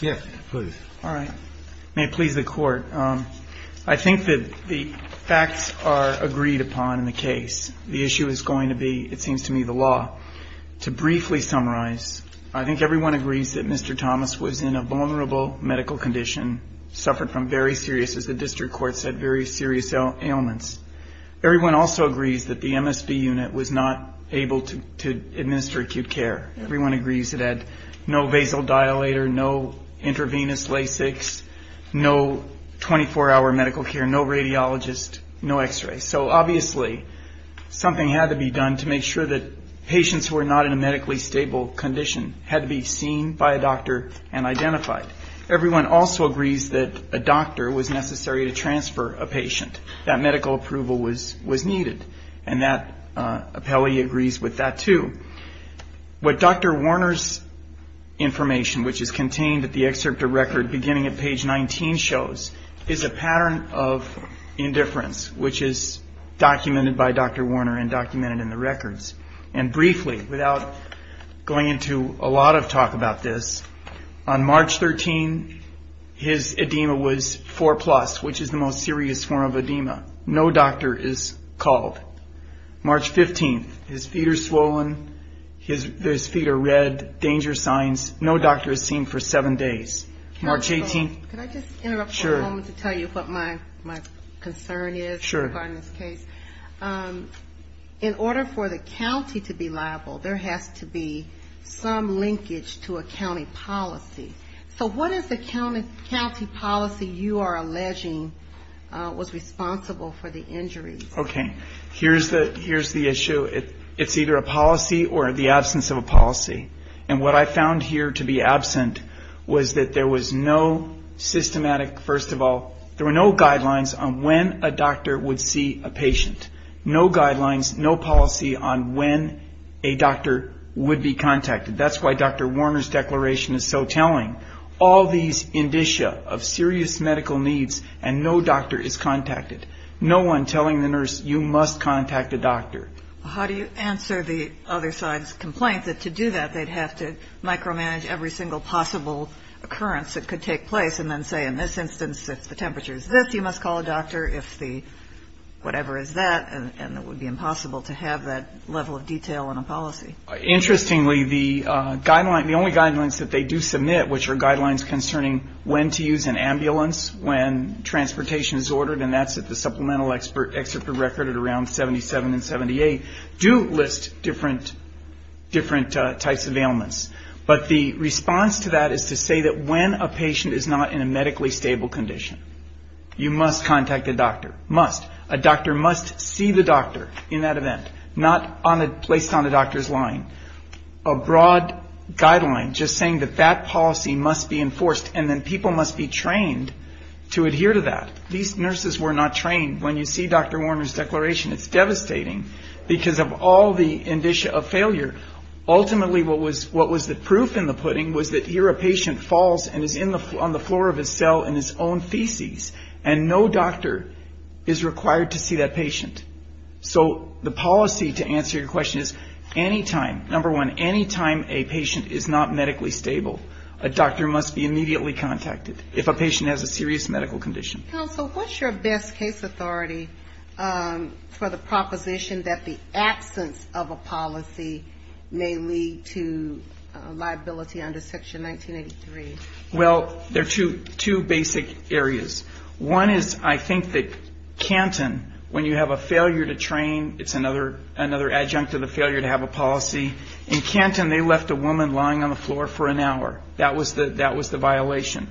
May it please the court. I think that the facts are agreed upon in the case. The issue is going to be, it seems to me, the law. To briefly summarize, I think everyone agrees that Mr. Thomas was in a vulnerable medical condition, suffered from very serious, as the district court said, very serious ailments. Everyone also agrees that the MSB unit was not able to administer acute care. Everyone agrees it had no vasodilator, no intravenous Lasix, no 24-hour medical care, no radiologist, no x-ray. So obviously something had to be done to make sure that patients who were not in a medically stable condition had to be seen by a doctor and identified. Everyone also agrees that a doctor was necessary to transfer a patient. That medical approval was needed. And that appellee agrees with that, too. What Dr. Warner's information, which is contained at the end of the excerpt of record, beginning at page 19, shows is a pattern of indifference, which is documented by Dr. Warner and documented in the records. And briefly, without going into a lot of talk about this, on March 13, his edema was 4+, which is the most serious form of edema. No doctor is called. March 15, his feet are swollen, his feet are red, danger signs, no doctor is seen for seven days. And March 18... Can I just interrupt for a moment to tell you what my concern is regarding this case? Sure. In order for the county to be liable, there has to be some linkage to a county policy. So what is the county policy you are alleging was responsible for the injuries? Okay. Here's the issue. It's either a policy or the absence of a policy. And what I found here to be absent was that there was no systematic... First of all, there were no guidelines on when a doctor would see a patient. No guidelines, no policy on when a doctor would be contacted. That's why Dr. Warner's declaration is so telling. All these indicia of serious medical needs and no doctor is contacted. No one telling the nurse, you must contact a doctor. How do you answer the other side's complaint that to do that, they'd have to micromanage every single possible occurrence that could take place and then say, in this instance, if the temperature is this, you must call a doctor, if the whatever is that, and it would be impossible to have that level of detail in a policy. Interestingly, the only guidelines that they do submit, which are guidelines concerning when to use an ambulance, when transportation is ordered, and that's at the supplemental expert record at around 77 and 78, do list different types of ailments. But the response to that is to say that when a patient is not in a medically stable condition, you must contact a doctor. Must. A doctor must see the doctor in that event, not placed on the doctor's line. A broad guideline just saying that that policy must be enforced and then people must be trained to adhere to that. These nurses were not trained. When you see Dr. Warner's declaration, it's devastating because of all the indicia of failure. Ultimately, what was the proof in the pudding was that here a patient falls and is on the floor of his cell in his own feces, and no doctor is required to see that patient. So the policy, to answer your question, is any time, number one, any time a patient is not medically stable, a doctor must be immediately contacted if a patient has a serious medical condition. Counsel, what's your best case authority for the proposition that the absence of a policy may lead to liability under Section 1983? Well, there are two basic areas. One is I think that Canton, when you have a failure to train, it's another adjunct of the failure to have a policy. In Canton, they left a woman lying on the floor for an hour. That was the violation.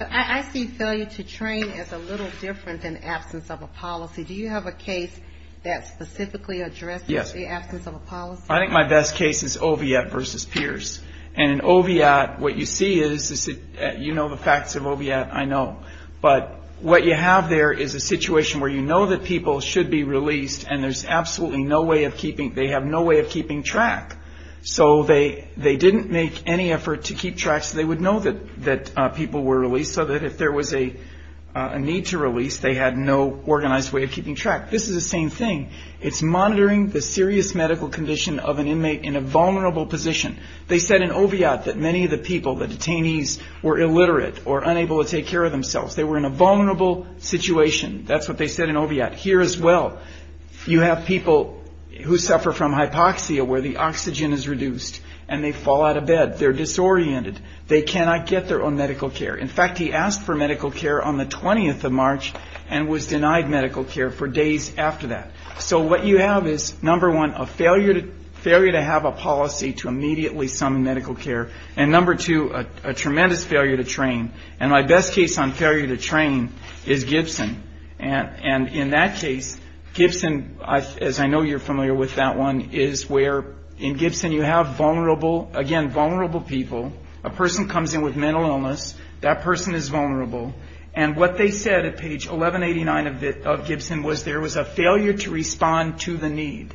I see failure to train as a little different than absence of a policy. Do you have a case that specifically addresses the absence of a policy? I think my best case is Oviatt v. Pierce. And in Oviatt, what you see is, you know the facts of Oviatt, I know. But what you have there is a situation where you know that people should be released, and there's absolutely no way of keeping, they have no way of keeping track. So they didn't make any effort to keep track so they would know that people were released, so that if there was a need to release, they had no organized way of keeping track. This is the same thing. It's monitoring the serious medical condition of an inmate in a vulnerable position. They said in Oviatt that many of the people, the detainees, were illiterate or unable to take care of themselves. They were in a vulnerable situation. That's what they said in Oviatt. Here as well, you have people who suffer from hypoxia, where the oxygen is reduced, and they fall out of bed. They're disoriented. They cannot get their own medical care. In fact, he asked for medical care on the 20th of March and was denied medical care for days after that. So what you have is, number one, a failure to have a policy to immediately summon medical care, and number two, a tremendous failure to train. And my best case on failure to train is Gibson. And in that case, Gibson, as I know you're familiar with that one, is where in Gibson you have vulnerable, again, vulnerable people. A person comes in with mental illness. That person is vulnerable. And what they said at page 1189 of Gibson was there was a failure to respond to the need.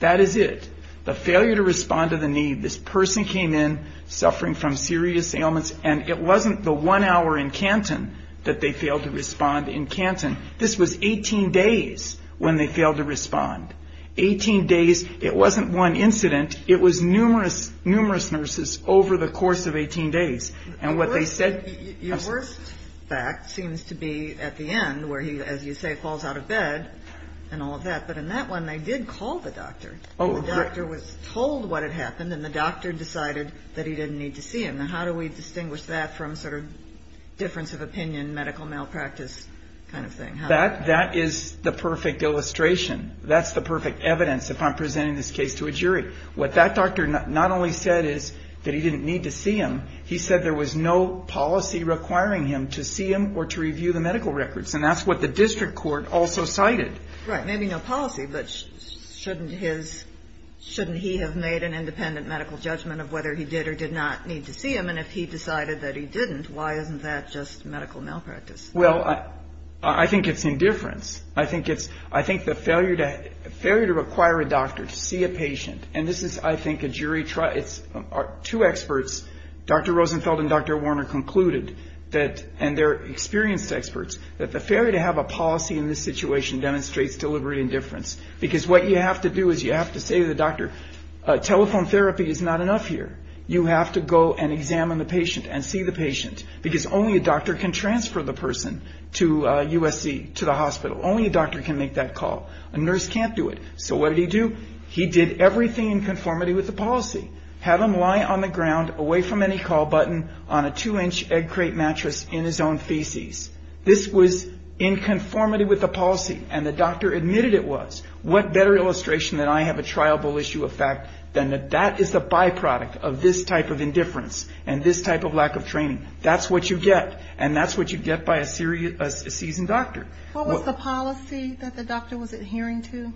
That is it. The failure to respond to the need. This person came in suffering from serious ailments, and it wasn't the one hour in Canton that they failed to respond in Canton. Eighteen days. It wasn't one incident. It was numerous, numerous nurses over the course of 18 days. And what they said... Your worst fact seems to be at the end, where he, as you say, falls out of bed and all of that. But in that one, they did call the doctor. The doctor was told what had happened, and the doctor decided that he didn't need to see him. Now, how do we distinguish that from sort of difference of opinion, medical malpractice kind of thing? That is the perfect illustration. That's the perfect evidence, if I'm presenting this case to a jury. What that doctor not only said is that he didn't need to see him, he said there was no policy requiring him to see him or to review the medical records. And that's what the district court also cited. Right. Maybe no policy, but shouldn't he have made an independent medical judgment of whether he did or did not need to see him? And if he decided that he didn't, why isn't that just medical malpractice? Well, I think it's indifference. I think the failure to require a doctor to see a patient, and this is, I think, a jury trial. Two experts, Dr. Rosenfeld and Dr. Warner, concluded, and they're experienced experts, that the failure to have a policy in this situation demonstrates deliberate indifference. Because what you have to do is you have to say to the doctor, telephone therapy is not enough here. You have to go and examine the patient and see the patient. Because only a doctor can transfer the person to USC, to the hospital. Only a doctor can make that call. A nurse can't do it. So what did he do? He did everything in conformity with the policy. Have him lie on the ground, away from any call button, on a two-inch egg crate mattress in his own feces. This was in conformity with the policy, and the doctor admitted it was. What better illustration than I have a triable issue of fact, than that that is the byproduct of this type of indifference and this type of lack of training. That's what you get, and that's what you get by a seasoned doctor. What was the policy that the doctor was adhering to?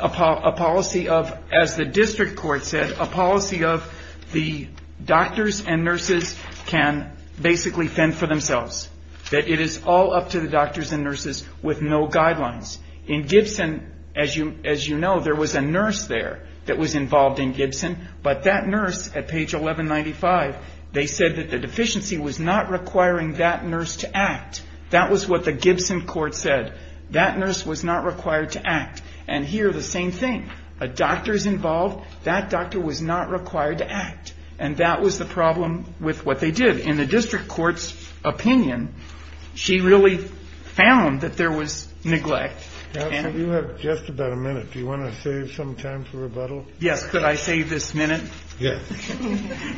A policy of, as the district court said, a policy of the doctors and nurses can basically fend for themselves. That it is all up to the doctors and nurses with no guidelines. In Gibson, as you know, there was a nurse there that was involved in Gibson, but that nurse, at page 1195, they said that the deficiency was not requiring that nurse to act. That was what the Gibson court said. That nurse was not required to act. And here, the same thing. A doctor is involved, that doctor was not required to act. And that was the problem with what they did. In the district court's opinion, she really found that there was neglect. You have just about a minute. Do you want to save some time for rebuttal? Yes. Could I save this minute? Yes.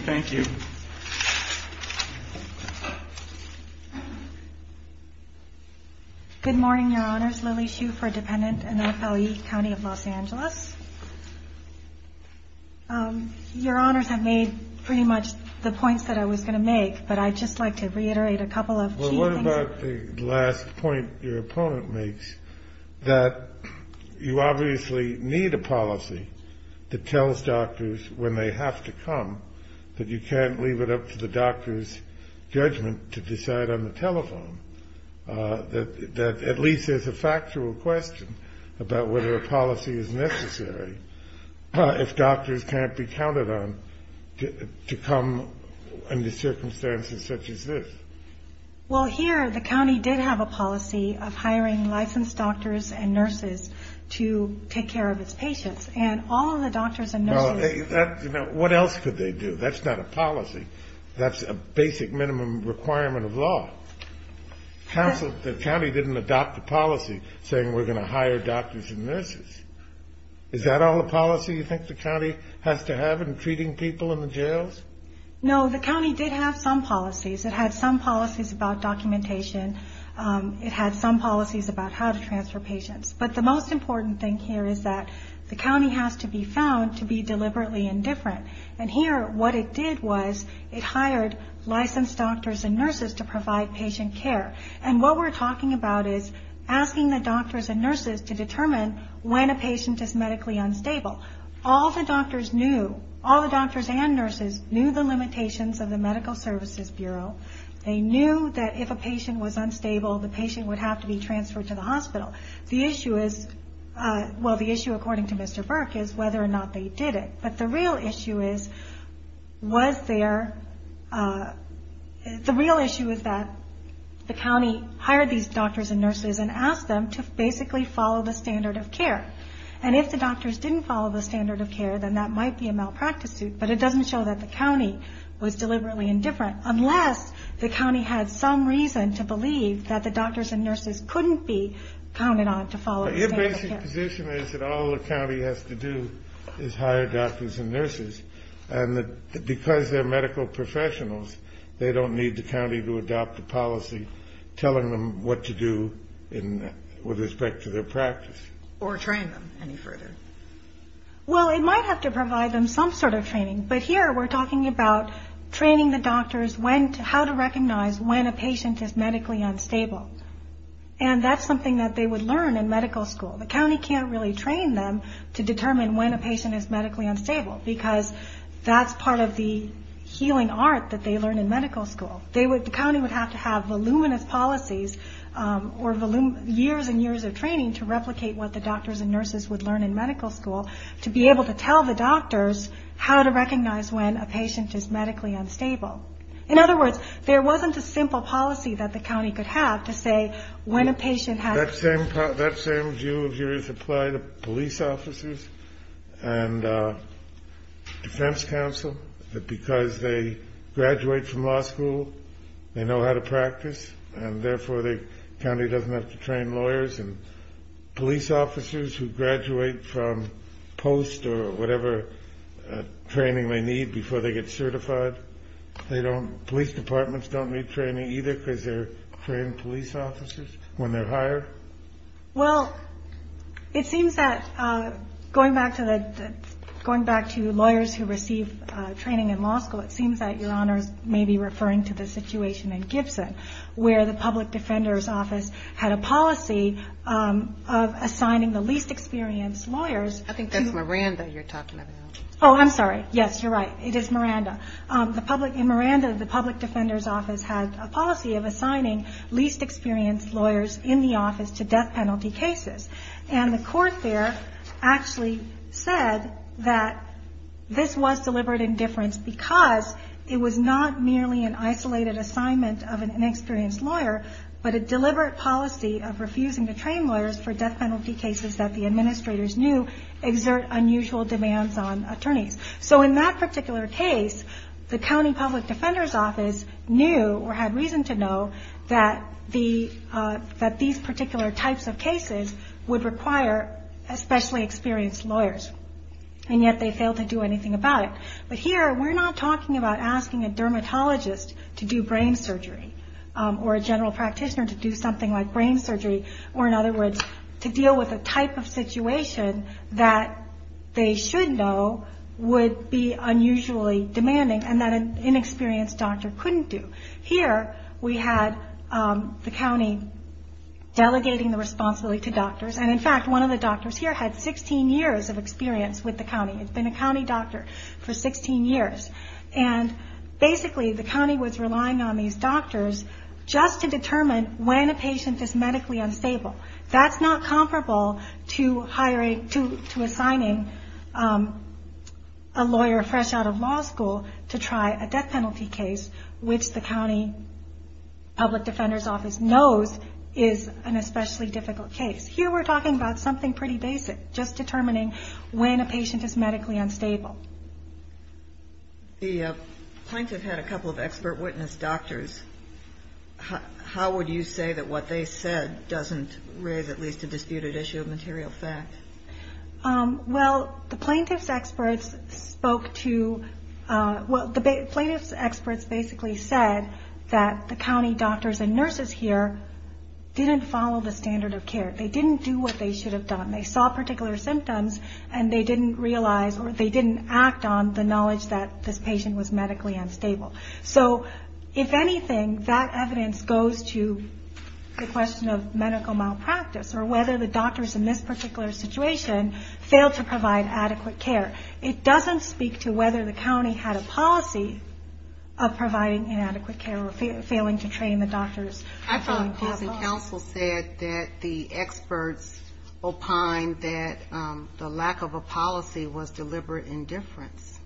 Thank you. Good morning, Your Honors. My name is Lily Hsu for a dependent in FLE County of Los Angeles. Your Honors, I've made pretty much the points that I was going to make, but I'd just like to reiterate a couple of key things. Well, what about the last point your opponent makes, that you obviously need a policy that tells doctors when they have to come, that you can't leave it up to the doctor's judgment to decide on the telephone, that at least there's a factual question about whether a policy is necessary, if doctors can't be counted on to come under circumstances such as this? Well, here, the county did have a policy of hiring licensed doctors and nurses to take care of its patients. And all of the doctors and nurses... What else could they do? That's not a policy. That's a basic minimum requirement of law. The county didn't adopt a policy saying we're going to hire doctors and nurses. Is that all the policy you think the county has to have in treating people in the jails? No, the county did have some policies. It had some policies about documentation. It had some policies about how to transfer patients. But the most important thing here is that the county has to be found to be deliberately indifferent. And here, what it did was it hired licensed doctors and nurses to provide patient care. And what we're talking about is asking the doctors and nurses to determine when a patient is medically unstable. All the doctors knew, all the doctors and nurses knew the limitations of the Medical Services Bureau. They knew that if a patient was unstable, the patient would have to be transferred to the hospital. The issue is... Well, the issue, according to Mr. Burke, is whether or not they did it. But the real issue is, was there... The real issue is that the county hired these doctors and nurses and asked them to basically follow the standard of care. And if the doctors didn't follow the standard of care, then that might be a malpractice suit. But it doesn't show that the county was deliberately indifferent, unless the county had some reason to believe that the doctors and nurses couldn't be counted on to follow the standard of care. Your basic position is that all the county has to do is hire doctors and nurses. And because they're medical professionals, they don't need the county to adopt a policy telling them what to do with respect to their practice. Or train them any further. Well, it might have to provide them some sort of training. But here, we're talking about training the doctors how to recognize when a patient is medically unstable. And that's something that they would learn in medical school. The county can't really train them to determine when a patient is medically unstable, because that's part of the healing art that they learn in medical school. The county would have to have voluminous policies or years and years of training to replicate what the doctors and nurses would learn in medical school to be able to tell the doctors how to recognize when a patient is medically unstable. In other words, there wasn't a simple policy that the county could have to say when a patient had- That same view of yours applied to police officers and defense counsel, that because they graduate from law school, they know how to practice, and therefore the county doesn't have to train lawyers and police officers who graduate from post or whatever training they need before they get certified. Police departments don't need training either because they're trained police officers when they're hired. Well, it seems that going back to lawyers who receive training in law school, it seems that your honors may be referring to the situation in Gibson, where the public defender's office had a policy of assigning the least experienced lawyers- I think that's Miranda you're talking about. Oh, I'm sorry. Yes, you're right. It is Miranda. In Miranda, the public defender's office had a policy of assigning least experienced lawyers in the office to death penalty cases. And the court there actually said that this was deliberate indifference because it was not merely an isolated assignment of an inexperienced lawyer, but a deliberate policy of refusing to train lawyers for death penalty cases that the administrators knew exert unusual demands on attorneys. So in that particular case, the county public defender's office knew or had reason to know that these particular types of cases would require especially experienced lawyers, and yet they failed to do anything about it. But here, we're not talking about asking a dermatologist to do brain surgery or a general practitioner to do something like brain surgery, or in other words, to deal with a type of situation that they should know would be unusually demanding and that an inexperienced doctor couldn't do. Here, we had the county delegating the responsibility to doctors, and in fact, one of the doctors here had 16 years of experience with the county. It's been a county doctor for 16 years. And basically, the county was relying on these doctors just to determine when a patient is medically unstable. That's not comparable to assigning a lawyer fresh out of law school to try a death penalty case, which the county public defender's office knows is an especially difficult case. Here, we're talking about something pretty basic, just determining when a patient is medically unstable. The plaintiff had a couple of expert witness doctors. How would you say that what they said doesn't raise at least a disputed issue of material fact? Well, the plaintiff's experts spoke to – well, the plaintiff's experts basically said that the county doctors and nurses here didn't follow the standard of care. They didn't do what they should have done. They saw particular symptoms, and they didn't realize or they didn't act on the knowledge that this patient was medically unstable. So if anything, that evidence goes to the question of medical malpractice or whether the doctors in this particular situation failed to provide adequate care. It doesn't speak to whether the county had a policy of providing inadequate care or failing to train the doctors. I thought Counsel said that the experts opined that the lack of a policy was deliberate indifference.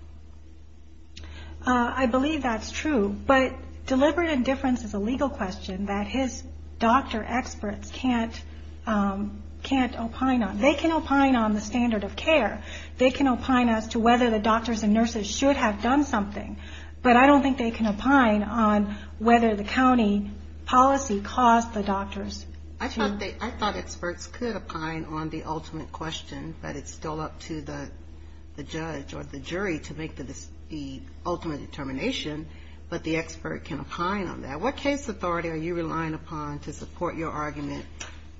I believe that's true, but deliberate indifference is a legal question that his doctor experts can't opine on. They can opine on the standard of care. They can opine as to whether the doctors and nurses should have done something, but I don't think they can opine on whether the county policy caused the doctors. I thought experts could opine on the ultimate question, but it's still up to the judge or the jury to make the ultimate determination, but the expert can opine on that. What case authority are you relying upon to support your argument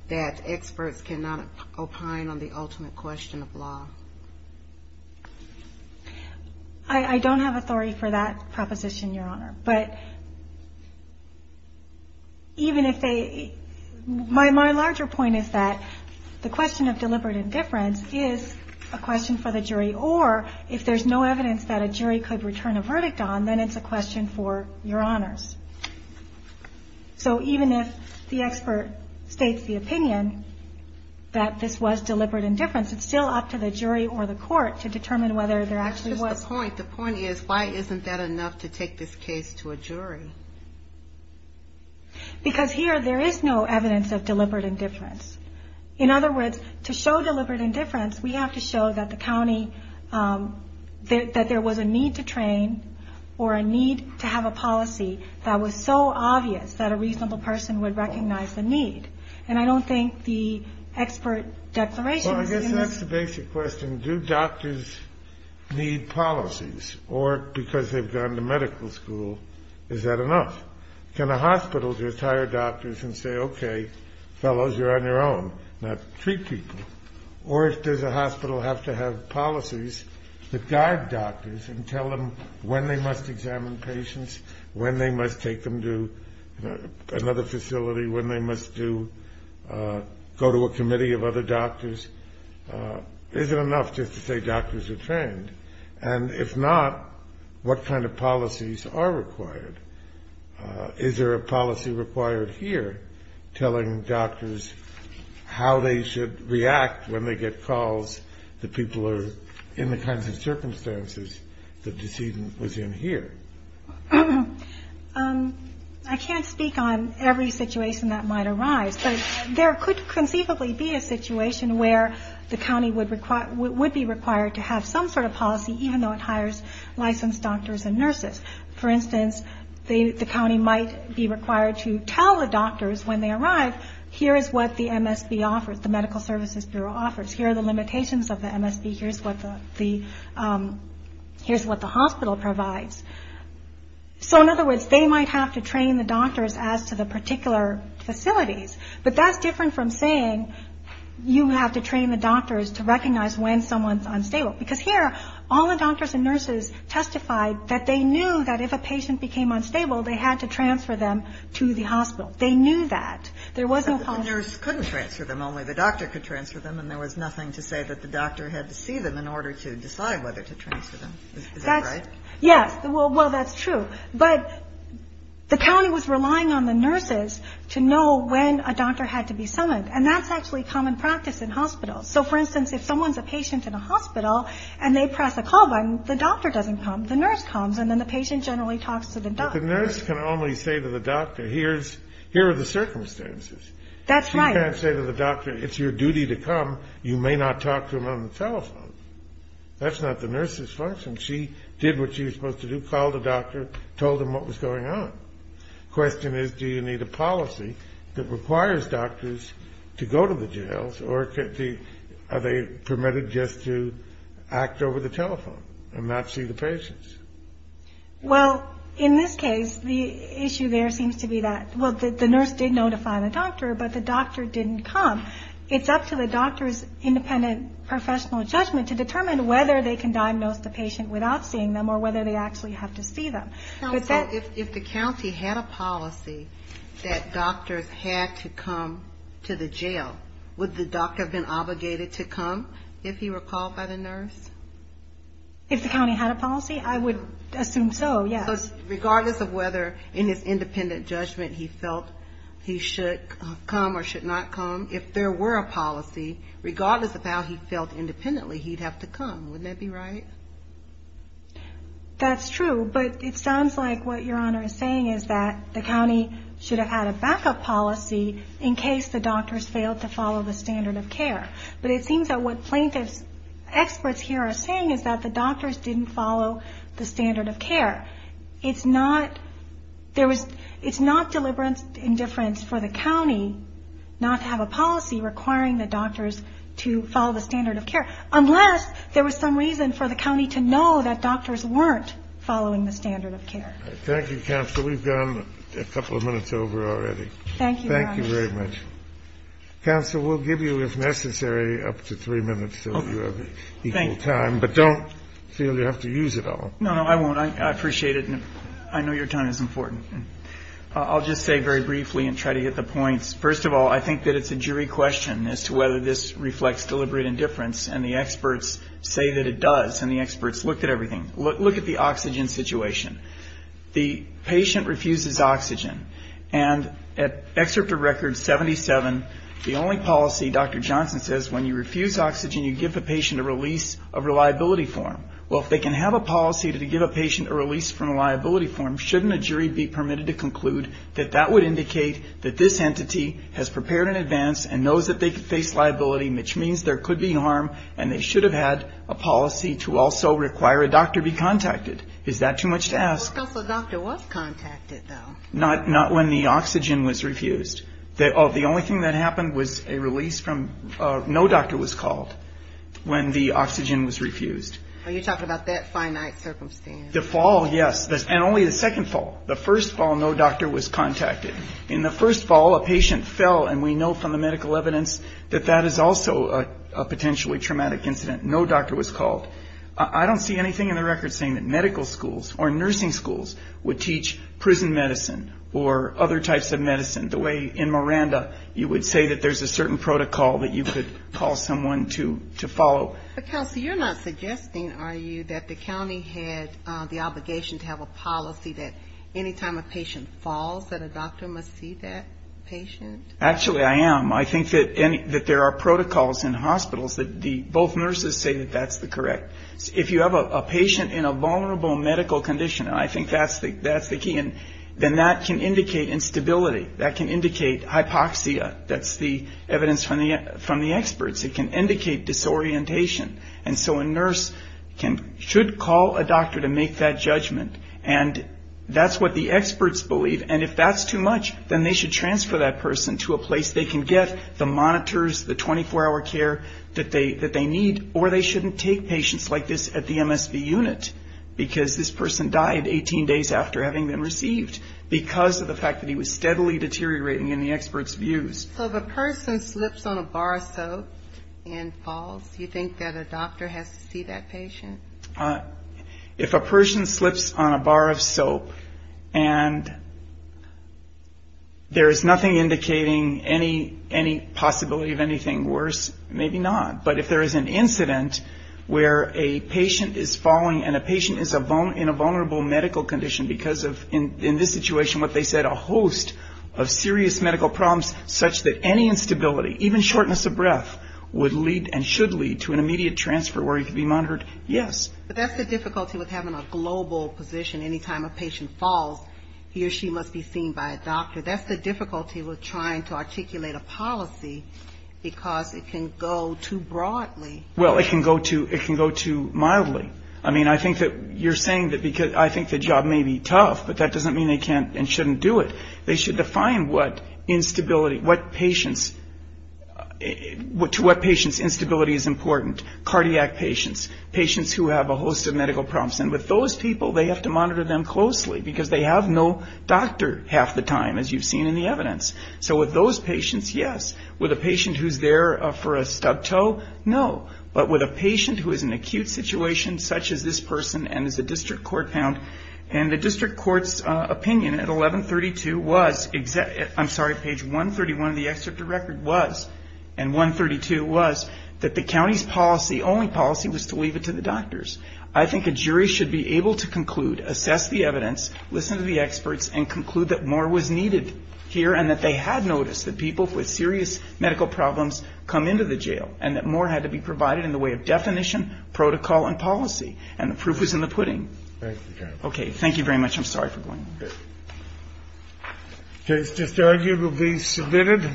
that experts cannot opine on the ultimate question of law? I don't have authority for that proposition, Your Honor. My larger point is that the question of deliberate indifference is a question for the jury, or if there's no evidence that a jury could return a verdict on, then it's a question for Your Honors. So even if the expert states the opinion that this was deliberate indifference, it's still up to the jury or the court to determine whether there actually was. That's just the point. The point is, why isn't that enough to take this case to a jury? Because here there is no evidence of deliberate indifference. In other words, to show deliberate indifference, we have to show that the county, that there was a need to train or a need to have a policy that was so obvious that a reasonable person would recognize the need. And I don't think the expert declaration is in this. Well, I guess that's the basic question. Do doctors need policies? Or because they've gone to medical school, is that enough? Can a hospital just hire doctors and say, okay, fellows, you're on your own. Not treat people. Or does a hospital have to have policies that guide doctors and tell them when they must examine patients, when they must take them to another facility, when they must go to a committee of other doctors? Is it enough just to say doctors are trained? And if not, what kind of policies are required? Is there a policy required here telling doctors how they should react when they get calls that people are in the kinds of circumstances the decedent was in here? I can't speak on every situation that might arise. But there could conceivably be a situation where the county would be required to have some sort of policy, for instance, the county might be required to tell the doctors when they arrive, here is what the MSB offers, the Medical Services Bureau offers. Here are the limitations of the MSB. Here's what the hospital provides. So in other words, they might have to train the doctors as to the particular facilities. But that's different from saying you have to train the doctors to recognize when someone's unstable. Because here, all the doctors and nurses testified that they knew that if a patient became unstable, they had to transfer them to the hospital. They knew that. There was no policy. But the nurse couldn't transfer them. Only the doctor could transfer them. And there was nothing to say that the doctor had to see them in order to decide whether to transfer them. Is that right? Yes. Well, that's true. But the county was relying on the nurses to know when a doctor had to be summoned. And that's actually common practice in hospitals. So, for instance, if someone's a patient in a hospital and they press a call button, the doctor doesn't come. The nurse comes. And then the patient generally talks to the doctor. But the nurse can only say to the doctor, here are the circumstances. That's right. She can't say to the doctor, it's your duty to come. You may not talk to him on the telephone. That's not the nurse's function. She did what she was supposed to do, called the doctor, told him what was going on. The question is, do you need a policy that requires doctors to go to the jails? Or are they permitted just to act over the telephone and not see the patients? Well, in this case, the issue there seems to be that, well, the nurse did notify the doctor, but the doctor didn't come. It's up to the doctor's independent professional judgment to determine whether they can diagnose the patient without seeing them or whether they actually have to see them. So if the county had a policy that doctors had to come to the jail, would the doctor have been obligated to come if he were called by the nurse? If the county had a policy, I would assume so, yes. So regardless of whether in his independent judgment he felt he should come or should not come, if there were a policy, regardless of how he felt independently, he'd have to come. Wouldn't that be right? That's true, but it sounds like what Your Honor is saying is that the county should have had a backup policy in case the doctors failed to follow the standard of care. But it seems that what plaintiff's experts here are saying is that the doctors didn't follow the standard of care. It's not deliberate indifference for the county not to have a policy requiring the doctors to follow the standard of care, unless there was some reason for the county to know that doctors weren't following the standard of care. Thank you, Counsel. We've gone a couple of minutes over already. Thank you, Your Honor. Thank you very much. Counsel, we'll give you, if necessary, up to three minutes so you have equal time. But don't feel you have to use it all. No, no, I won't. I appreciate it, and I know your time is important. I'll just say very briefly and try to get the points. First of all, I think that it's a jury question as to whether this reflects deliberate indifference, and the experts say that it does, and the experts looked at everything. Look at the oxygen situation. The patient refuses oxygen, and at Excerpt of Record 77, the only policy, Dr. Johnson says, when you refuse oxygen, you give the patient a release of reliability form. Well, if they can have a policy to give a patient a release from a reliability form, shouldn't a jury be permitted to conclude that that would indicate that this entity has prepared in advance and knows that they could face liability, which means there could be harm, and they should have had a policy to also require a doctor be contacted? Is that too much to ask? Well, Counsel, a doctor was contacted, though. Not when the oxygen was refused. The only thing that happened was a release from no doctor was called when the oxygen was refused. Well, you're talking about that finite circumstance. The fall, yes. And only the second fall. The first fall, no doctor was contacted. In the first fall, a patient fell, and we know from the medical evidence that that is also a potentially traumatic incident. No doctor was called. I don't see anything in the record saying that medical schools or nursing schools would teach prison medicine or other types of medicine the way in Miranda you would say that there's a certain protocol that you could call someone to follow. But, Counsel, you're not suggesting, are you, that the county had the obligation to have a policy that any time a patient falls that a doctor must see that patient? Actually, I am. I think that there are protocols in hospitals that both nurses say that that's the correct. If you have a patient in a vulnerable medical condition, and I think that's the key, then that can indicate instability. That can indicate hypoxia. That's the evidence from the experts. It can indicate disorientation. And so a nurse should call a doctor to make that judgment. And that's what the experts believe. And if that's too much, then they should transfer that person to a place they can get the monitors, the 24-hour care that they need, or they shouldn't take patients like this at the MSV unit because this person died 18 days after having been received because of the fact that he was steadily deteriorating in the experts' views. So if a person slips on a bar of soap and falls, do you think that a doctor has to see that patient? If a person slips on a bar of soap and there is nothing indicating any possibility of anything worse, maybe not. But if there is an incident where a patient is falling and a patient is in a vulnerable medical condition because of, in this situation, what they said, a host of serious medical problems such that any instability, even shortness of breath, would lead and should lead to an immediate transfer where he could be monitored, yes. But that's the difficulty with having a global position. Anytime a patient falls, he or she must be seen by a doctor. That's the difficulty with trying to articulate a policy because it can go too broadly. Well, it can go too mildly. I mean, I think that you're saying that because I think the job may be tough, but that doesn't mean they can't and shouldn't do it. They should define what instability, what patients, to what patients instability is important. Cardiac patients, patients who have a host of medical problems. And with those people, they have to monitor them closely because they have no doctor half the time, as you've seen in the evidence. So with those patients, yes. With a patient who's there for a stubbed toe, no. But with a patient who is in an acute situation such as this person and is a district court pound, and the district court's opinion at 1132 was, I'm sorry, page 131 of the excerpt of record was, and 132 was, that the county's policy, only policy, was to leave it to the doctors. I think a jury should be able to conclude, assess the evidence, listen to the experts, and conclude that more was needed here and that they had noticed that people with serious medical problems come into the jail and that more had to be provided in the way of definition, protocol, and policy. And the proof is in the pudding. Okay. Thank you very much. I'm sorry for going on. Okay. This argument will be submitted.